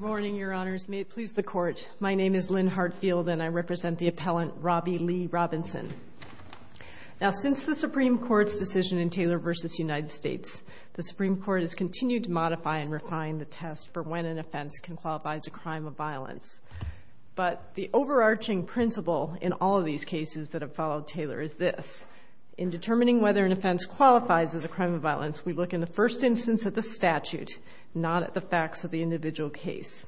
Now, since the Supreme Court's decision in Taylor v. United States, the Supreme Court has continued to modify and refine the test for when an offense can qualify as a crime of violence, but the overarching principle in all of these cases that have followed Taylor is this. In determining whether an offense qualifies as a crime of violence, we look in the first instance at the statute, not at the facts of the individual case.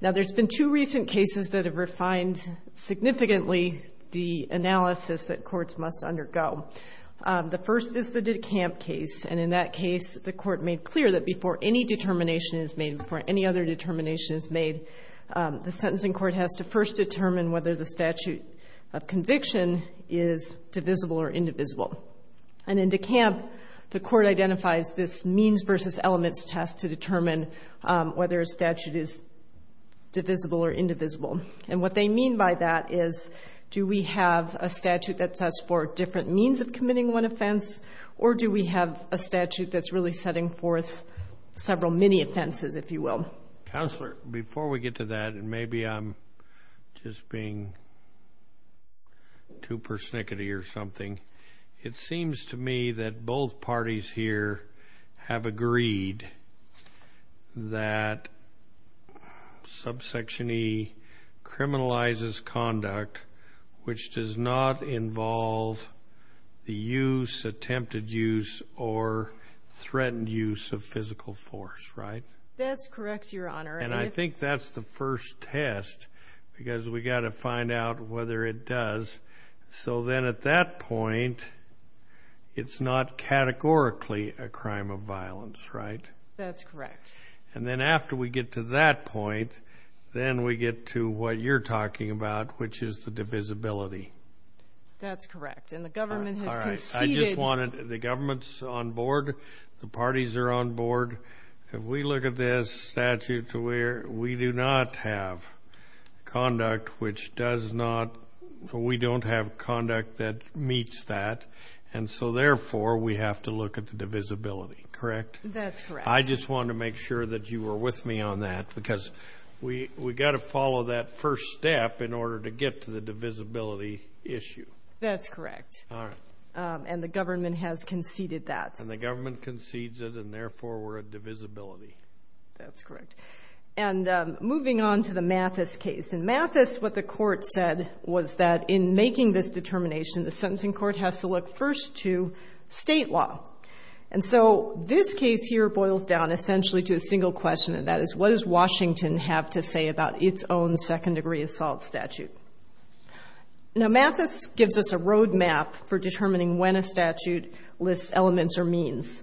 Now, there's been two recent cases that have refined significantly the analysis that courts must undergo. The first is the DeCamp case, and in that case, the court made clear that before any determination is made, before any other determination is made, the sentencing court has to first determine whether the statute of conviction is divisible or indivisible. And in DeCamp, the court identifies this means versus elements test to determine whether a statute is divisible or indivisible. And what they mean by that is, do we have a statute that sets forth different means of committing one offense, or do we have a statute that's really setting forth several mini-offenses, if you will? Counselor, before we get to that, and maybe I'm just being too persnickety or something, it seems to me that both parties here have agreed that subsection E criminalizes conduct which does not involve the use, attempted use, or threatened use of physical force, right? That's correct, Your Honor. And I think that's the first test, because we've got to find out whether it does. So then at that point, it's not categorically a crime of violence, right? That's correct. And then after we get to that point, then we get to what you're talking about, which is the divisibility. That's correct. And the government has conceded... The government's on board, the parties are on board. If we look at this statute to where we do not have conduct which does not, we don't have conduct that meets that, and so therefore, we have to look at the divisibility, correct? That's correct. I just wanted to make sure that you were with me on that, because we've got to follow that first step in order to get to the divisibility issue. That's correct. All right. And the government has conceded that. And the government concedes it, and therefore, we're at divisibility. That's correct. And moving on to the Mathis case. In Mathis, what the court said was that in making this determination, the sentencing court has to look first to state law. And so this case here boils down essentially to a single question, and that is, what does Washington have to say about its own second-degree assault statute? Now, Mathis gives us a roadmap for determining when a statute lists elements or means.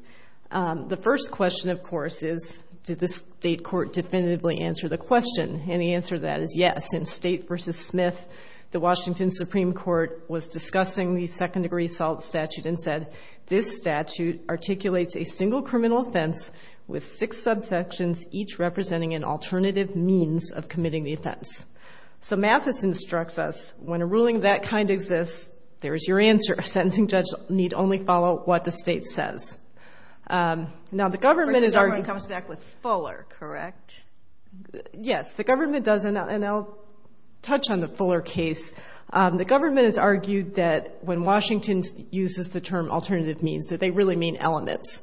The first question, of course, is, did the state court definitively answer the question? And the answer to that is yes. In State v. Smith, the Washington Supreme Court was discussing the second-degree assault statute and said, this statute articulates a single criminal offense with six subsections, each representing an alternative means of committing the offense. So Mathis instructs us, when a ruling of that kind exists, there is your answer. A sentencing judge need only follow what the state says. Now, the government has argued— First, the government comes back with fuller, correct? Yes. The government does, and I'll touch on the fuller case. The government has argued that when Washington uses the term alternative means, that they really mean elements.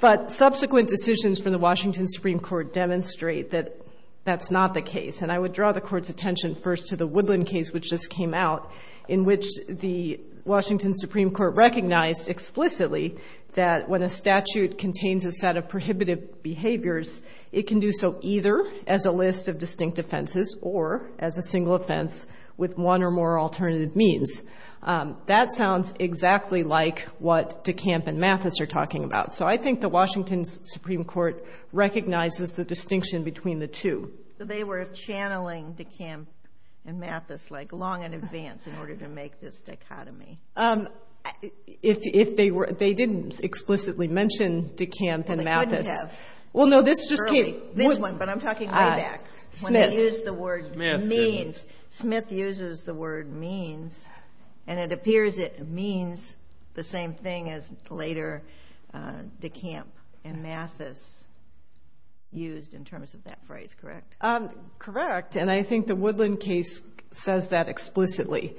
But subsequent decisions from the Washington Supreme Court demonstrate that that's not the case. And I would draw the Court's attention first to the Woodland case, which just came out, in which the Washington Supreme Court recognized explicitly that when a statute contains a set of prohibitive behaviors, it can do so either as a list of distinct offenses or as a single offense with one or more alternative means. That sounds exactly like what DeCamp and Mathis are talking about. So I think the Washington Supreme Court recognizes the distinction between the two. So they were channeling DeCamp and Mathis, like, long in advance in order to make this dichotomy. They didn't explicitly mention DeCamp and Mathis. Well, they could have. Well, no, this just came— This one, but I'm talking way back. Smith. They used the word means. Smith uses the word means, and it appears it means the same thing as later DeCamp and Mathis used in terms of that phrase. Correct? Correct, and I think the Woodland case says that explicitly.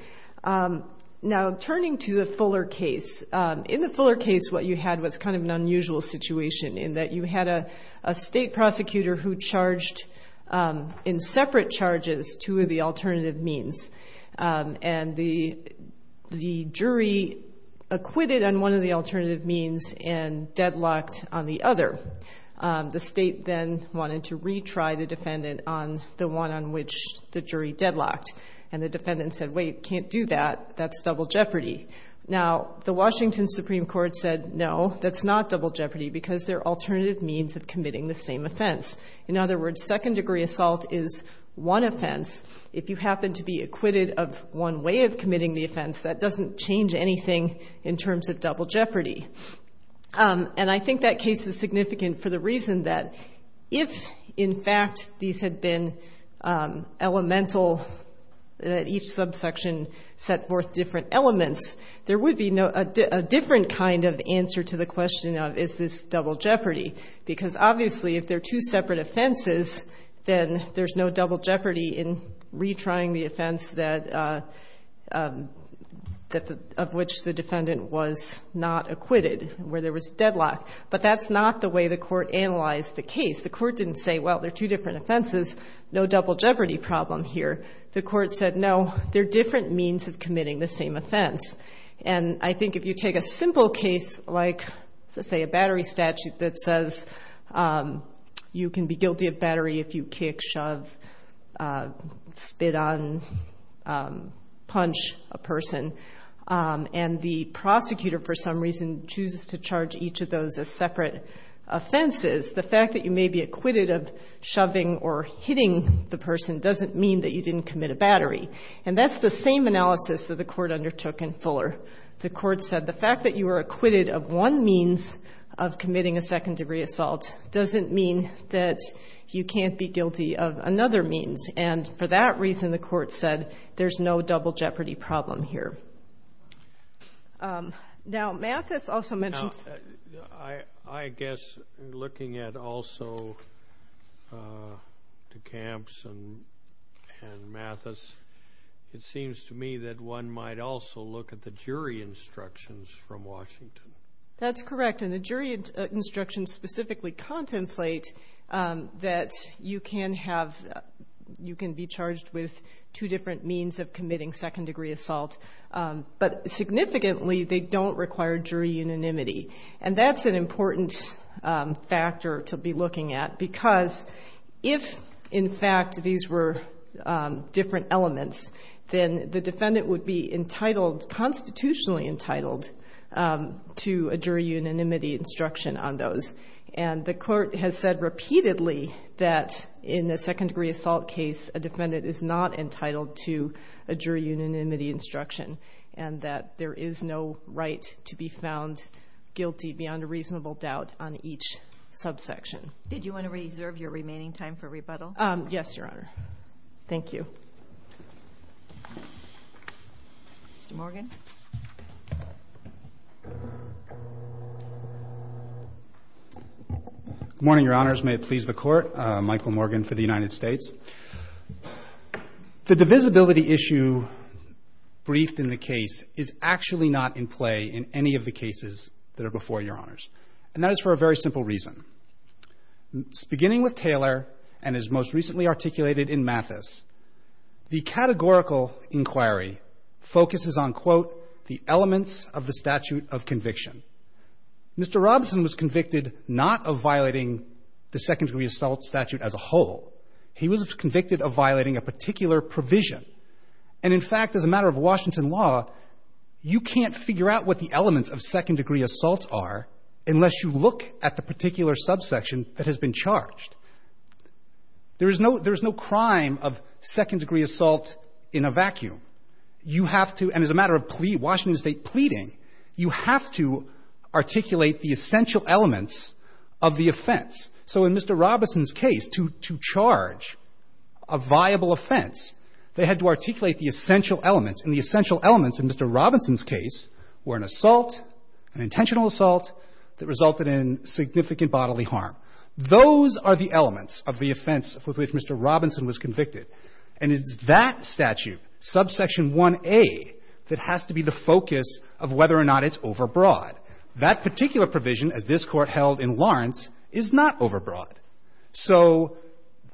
Now, turning to the Fuller case, in the Fuller case, what you had was kind of an unusual situation, in that you had a state prosecutor who charged in separate charges two of the alternative means, and the jury acquitted on one of the alternative means and deadlocked on the other. The state then wanted to retry the defendant on the one on which the jury deadlocked, and the defendant said, wait, can't do that. That's double jeopardy. Now, the Washington Supreme Court said, no, that's not double jeopardy, because they're alternative means of committing the same offense. In other words, second-degree assault is one offense. If you happen to be acquitted of one way of committing the offense, that doesn't change anything in terms of double jeopardy. And I think that case is significant for the reason that if, in fact, these had been elemental, that each subsection set forth different elements, there would be a different kind of answer to the question of, is this double jeopardy? Because, obviously, if they're two separate offenses, then there's no double jeopardy in retrying the offense of which the defendant was not acquitted, where there was deadlock. But that's not the way the court analyzed the case. The court didn't say, well, they're two different offenses, no double jeopardy problem here. The court said, no, they're different means of committing the same offense. And I think if you take a simple case like, say, a battery statute that says you can be guilty of battery if you kick, shove, spit on, punch a person, and the prosecutor, for some reason, chooses to charge each of those as separate offenses, the fact that you may be acquitted of shoving or hitting the person doesn't mean that you didn't commit a battery. And that's the same analysis that the court undertook in Fuller. The court said the fact that you were acquitted of one means of committing a second-degree assault doesn't mean that you can't be guilty of another means. And for that reason, the court said, there's no double jeopardy problem here. Now, Mathis also mentioned... I guess looking at also DeCamps and Mathis, it seems to me that one might also look at the jury instructions from Washington. That's correct, and the jury instructions specifically contemplate that you can be charged with two different means of committing second-degree assault, but significantly they don't require jury unanimity. And that's an important factor to be looking at, because if, in fact, these were different elements, then the defendant would be entitled, constitutionally entitled, to a jury unanimity instruction on those. And the court has said repeatedly that in a second-degree assault case, a defendant is not entitled to a jury unanimity instruction, and that there is no right to be found guilty beyond a reasonable doubt on each subsection. Did you want to reserve your remaining time for rebuttal? Yes, Your Honor. Thank you. Mr. Morgan. Good morning, Your Honors. May it please the Court. Michael Morgan for the United States. The divisibility issue briefed in the case is actually not in play in any of the cases that are before Your Honors, and that is for a very simple reason. Beginning with Taylor and as most recently articulated in Mathis, the categorical inquiry focuses on, quote, the elements of the statute of conviction. Mr. Robinson was convicted not of violating the second-degree assault statute as a whole. He was convicted of violating a particular provision. And in fact, as a matter of Washington law, you can't figure out what the elements of second-degree assault are unless you look at the particular subsection that has been charged. There is no crime of second-degree assault in a vacuum. You have to, and as a matter of Washington State pleading, you have to articulate the essential elements of the offense. So in Mr. Robinson's case, to charge a viable offense, they had to articulate the essential elements. And the essential elements in Mr. Robinson's case were an assault, an intentional assault that resulted in significant bodily harm. Those are the elements of the offense with which Mr. Robinson was convicted. And it's that statute, subsection 1A, that has to be the focus of whether or not it's overbroad. That particular provision, as this Court held in Lawrence, is not overbroad. So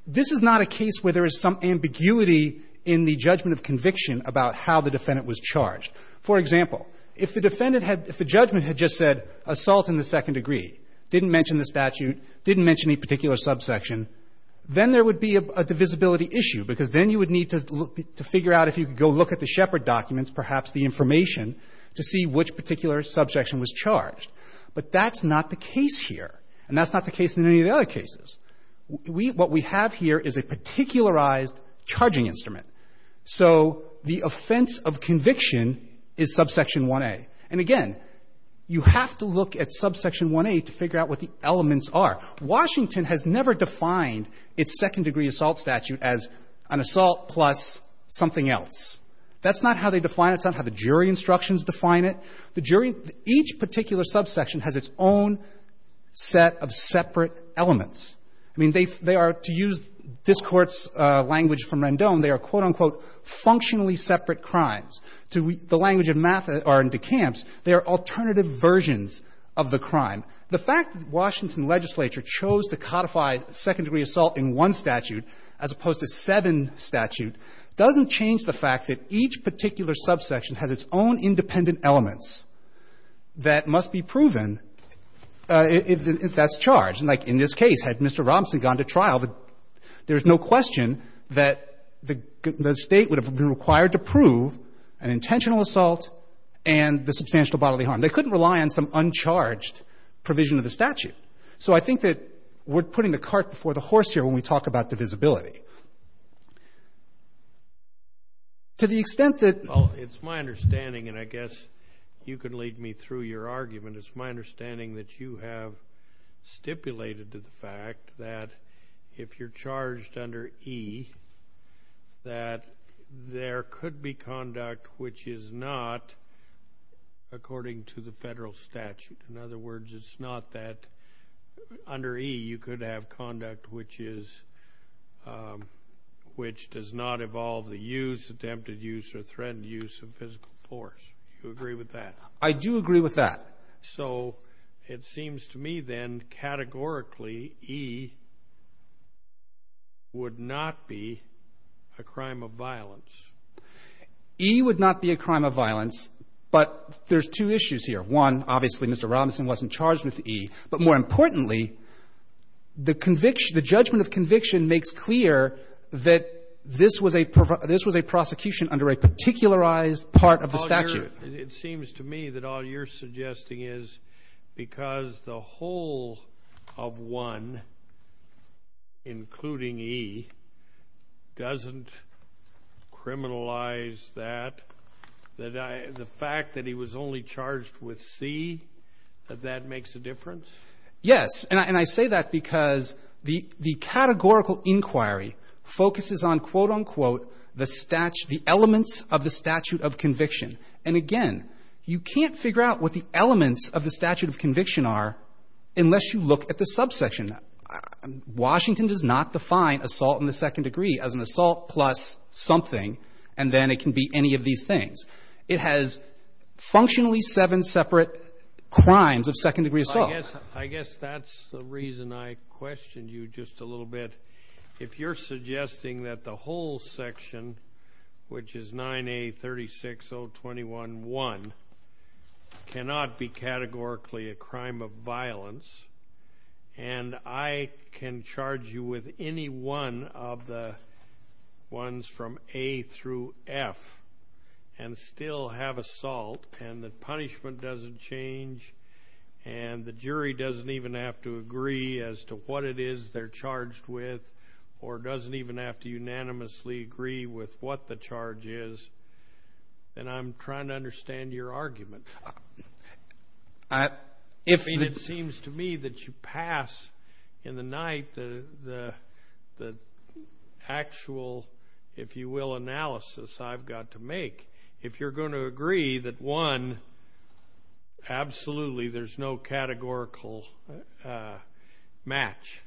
this is not a case where there is some ambiguity in the judgment of conviction about how the defendant was charged. For example, if the defendant had — if the judgment had just said assault in the second degree, didn't mention the statute, didn't mention any particular subsection, then there would be a divisibility issue, because then you would need to figure out if you could go look at the Shepard documents, perhaps the information, to see which particular subsection was charged. But that's not the case here, and that's not the case in any of the other cases. We — what we have here is a particularized charging instrument. So the offense of conviction is subsection 1A. And again, you have to look at subsection 1A to figure out what the elements are. Washington has never defined its second-degree assault statute as an assault plus something else. That's not how they define it. That's not how the jury instructions define it. The jury — each particular subsection has its own set of separate elements. I mean, they are, to use this Court's language from Rendon, they are, quote, unquote, functionally separate crimes. To the language of DeCamps, they are alternative versions of the crime. The fact that Washington legislature chose to codify second-degree assault in one statute doesn't change the fact that each particular subsection has its own independent elements that must be proven if that's charged. And, like, in this case, had Mr. Robinson gone to trial, there's no question that the State would have been required to prove an intentional assault and the substantial bodily harm. They couldn't rely on some uncharged provision of the statute. So I think that we're putting the cart before the horse here when we talk about divisibility. To the extent that — Well, it's my understanding, and I guess you can lead me through your argument, it's my understanding that you have stipulated to the fact that if you're charged under E, that there could be conduct which is not according to the federal statute. In other words, it's not that under E, you could have conduct which is — which does not involve the use, attempted use, or threatened use of physical force. Do you agree with that? I do agree with that. So it seems to me, then, categorically, E would not be a crime of violence. E would not be a crime of violence, but there's two issues here. One, obviously, Mr. Robinson wasn't charged with E. But more importantly, the conviction — the judgment of conviction makes clear that this was a — this was a prosecution under a particularized part of the statute. It seems to me that all you're suggesting is because the whole of 1, including E, doesn't criminalize that, that the fact that he was only charged with C, that that makes a difference? Yes. And I say that because the categorical inquiry focuses on, quote, unquote, the elements of the statute of conviction. And again, you can't figure out what the elements of the statute of conviction are unless you look at the subsection. Washington does not define assault in the second degree as an assault plus something, and then it can be any of these things. It has functionally seven separate crimes of second-degree assault. I guess that's the reason I questioned you just a little bit. If you're suggesting that the whole section, which is 9A-36-021-1, cannot be and I can charge you with any one of the ones from A through F and still have assault and the punishment doesn't change and the jury doesn't even have to agree as to what it is they're charged with or doesn't even have to unanimously agree with what the charge is, then I'm trying to understand your argument. If it seems to me that you pass in the night the actual, if you will, analysis I've got to make, if you're going to agree that, one, absolutely there's no categorical match,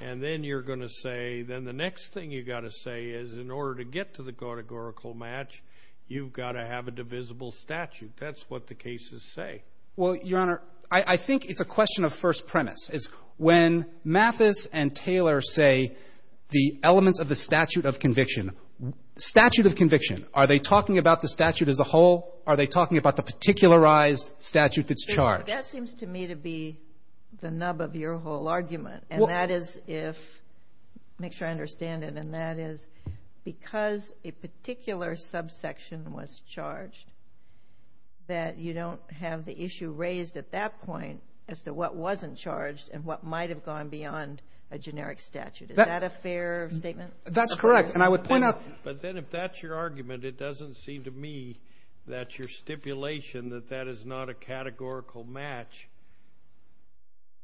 and then you're going to say then the next thing you've got to say is in order to get to the categorical match, you've got to have a divisible statute. That's what the cases say. Well, Your Honor, I think it's a question of first premise. When Mathis and Taylor say the elements of the statute of conviction, statute of conviction, are they talking about the statute as a whole? Are they talking about the particularized statute that's charged? That seems to me to be the nub of your whole argument, and that is if, make sure I understand it, and that is because a particular subsection was charged that you don't have the issue raised at that point as to what wasn't charged and what might have gone beyond a generic statute. Is that a fair statement? That's correct, and I would point out. But then if that's your argument, it doesn't seem to me that your stipulation, that that is not a categorical match.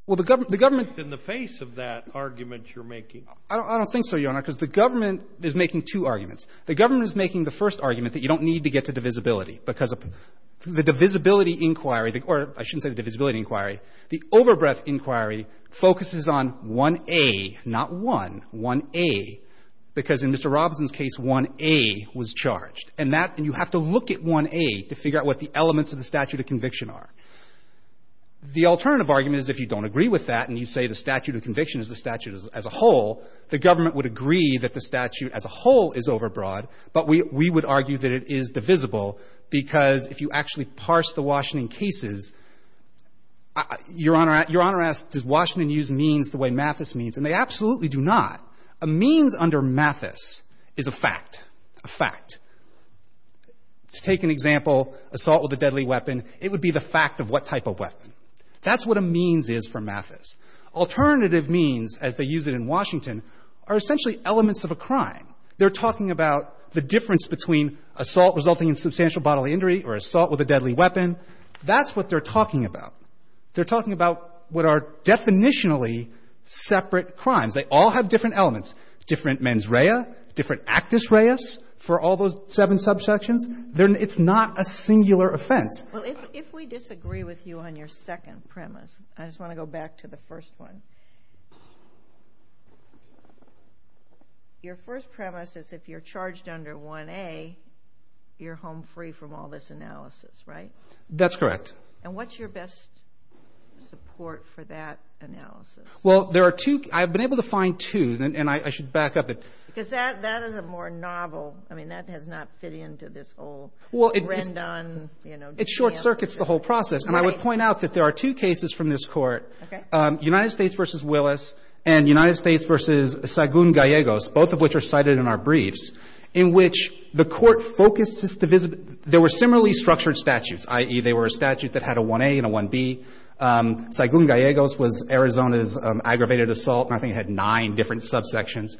Well, the government. In the face of that argument you're making. I don't think so, Your Honor, because the government is making two arguments. The government is making the first argument that you don't need to get to divisibility because the divisibility inquiry, or I shouldn't say the divisibility inquiry, the overbreadth inquiry focuses on 1A, not 1, 1A, because in Mr. Robinson's case, 1A was charged. And that, and you have to look at 1A to figure out what the elements of the statute of conviction are. The alternative argument is if you don't agree with that and you say the statute of conviction is the statute as a whole, the government would agree that the statute as a whole is overbroad. But we would argue that it is divisible because if you actually parse the Washington cases, Your Honor asks, does Washington use means the way Mathis means? And they absolutely do not. A means under Mathis is a fact, a fact. To take an example, assault with a deadly weapon, it would be the fact of what type of weapon. That's what a means is for Mathis. Alternative means, as they use it in Washington, are essentially elements of a crime. They're talking about the difference between assault resulting in substantial bodily injury or assault with a deadly weapon. That's what they're talking about. They're talking about what are definitionally separate crimes. They all have different elements, different mens rea, different actus reas for all those seven subsections. It's not a singular offense. Well, if we disagree with you on your second premise, I just want to go back to the first one. Your first premise is if you're charged under 1A, you're home free from all this analysis, right? That's correct. And what's your best support for that analysis? Well, there are two. I've been able to find two, and I should back up it. Because that is a more novel. I mean, that does not fit into this whole trend on, you know. It short circuits the whole process. And I would point out that there are two cases from this court, United States versus Willis and United States versus Saigon Gallegos, both of which are cited in our briefs, in which the court focuses. There were similarly structured statutes, i.e., they were a statute that had a 1A and a 1B. Saigon Gallegos was Arizona's aggravated assault, and I think it had nine different subsections.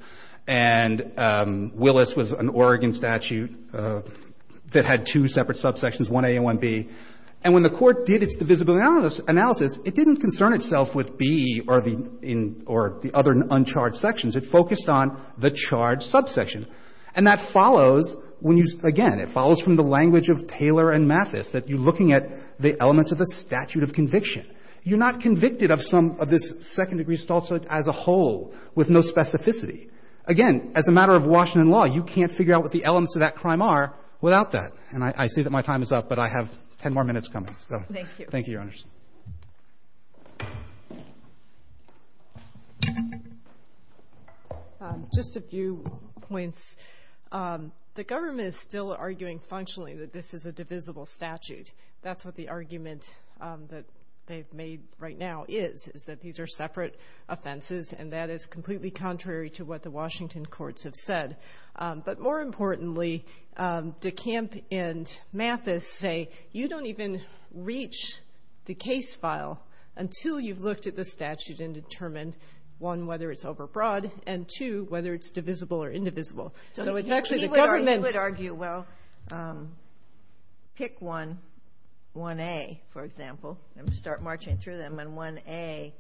And Willis was an Oregon statute that had two separate subsections, 1A and 1B. And when the court did its divisibility analysis, it didn't concern itself with B or the other uncharged sections. It focused on the charged subsection. And that follows when you, again, it follows from the language of Taylor and Mathis, that you're looking at the elements of the statute of conviction. You're not convicted of some of this second-degree assault as a whole with no specificity. Again, as a matter of Washington law, you can't figure out what the elements of that crime are without that. And I see that my time is up, but I have ten more minutes coming. Thank you. Thank you, Your Honors. Just a few points. The government is still arguing functionally that this is a divisible statute. That's what the argument that they've made right now is, is that these are separate offenses, and that is completely contrary to what the Washington courts have said. But more importantly, DeCamp and Mathis say, you don't even reach the case file until you've looked at the statute and determined, one, whether it's overbroad, and, two, whether it's divisible or indivisible. So it's actually the government. You would argue, well, pick one, 1A, for example, and start marching through them. And 1A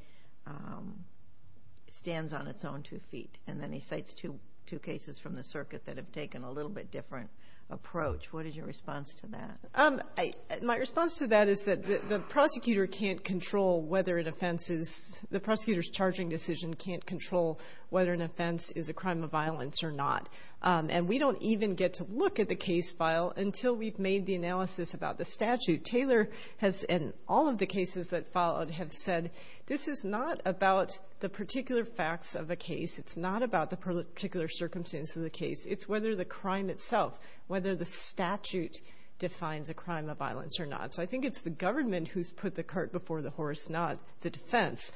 stands on its own two feet. And then he cites two cases from the circuit that have taken a little bit different approach. What is your response to that? My response to that is that the prosecutor can't control whether an offense is, the prosecutor's charging decision can't control whether an offense is a crime of violence or not. And we don't even get to look at the case file until we've made the analysis about the statute. Taylor has, in all of the cases that followed, have said, this is not about the particular facts of a case. It's not about the particular circumstance of the case. It's whether the crime itself, whether the statute defines a crime of violence or not. So I think it's the government who's put the cart before the horse, not the defense.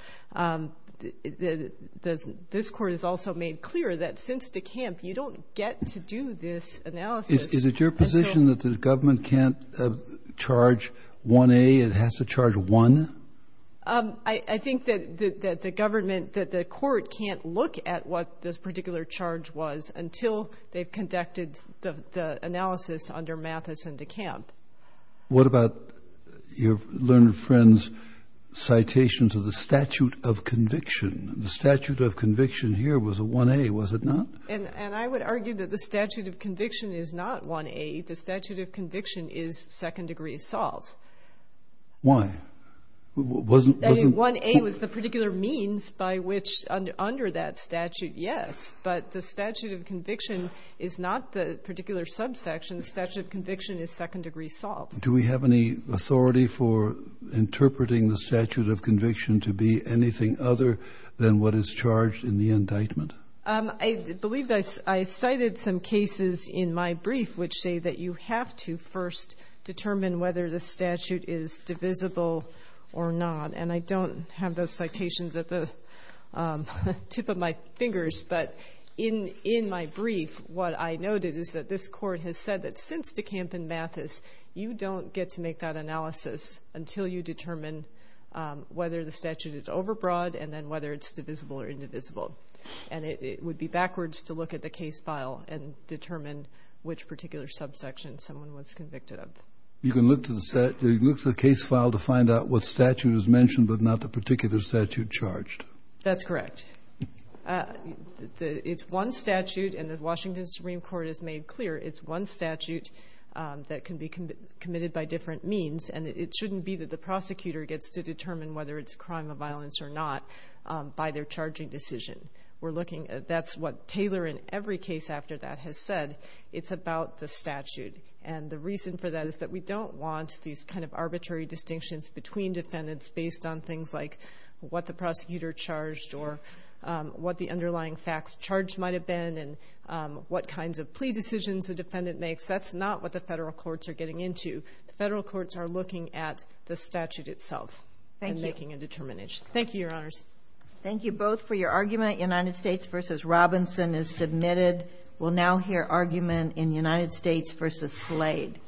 This Court has also made clear that since DeCamp, you don't get to do this analysis. Is it your position that the government can't charge 1A? It has to charge 1? I think that the government, that the Court can't look at what this particular charge was until they've conducted the analysis under Mathis and DeCamp. What about your learned friend's citations of the statute of conviction? The statute of conviction here was a 1A, was it not? And I would argue that the statute of conviction is not 1A. The statute of conviction is second-degree assault. Why? I mean, 1A was the particular means by which, under that statute, yes. But the statute of conviction is not the particular subsection. The statute of conviction is second-degree assault. Do we have any authority for interpreting the statute of conviction to be anything other than what is charged in the indictment? I believe I cited some cases in my brief which say that you have to first determine whether the statute is divisible or not. And I don't have those citations at the tip of my fingers. But in my brief, what I noted is that this Court has said that since DeCamp and Mathis, you don't get to make that analysis until you determine whether the statute is overbroad and then whether it's divisible or indivisible. And it would be backwards to look at the case file and determine which particular subsection someone was convicted of. You can look to the case file to find out what statute is mentioned but not the particular statute charged. That's correct. It's one statute, and the Washington Supreme Court has made clear it's one statute that can be committed by different means. And it shouldn't be that the prosecutor gets to determine whether it's a crime of violence or not by their charging decision. That's what Taylor, in every case after that, has said. It's about the statute. And the reason for that is that we don't want these kind of arbitrary distinctions between defendants based on things like what the prosecutor charged or what the underlying facts charged might have been and what kinds of plea decisions the defendant makes. That's not what the federal courts are getting into. The federal courts are looking at the statute itself and making a determination. Thank you, Your Honors. Thank you both for your argument. United States v. Robinson is submitted. We'll now hear argument in United States v. Slade.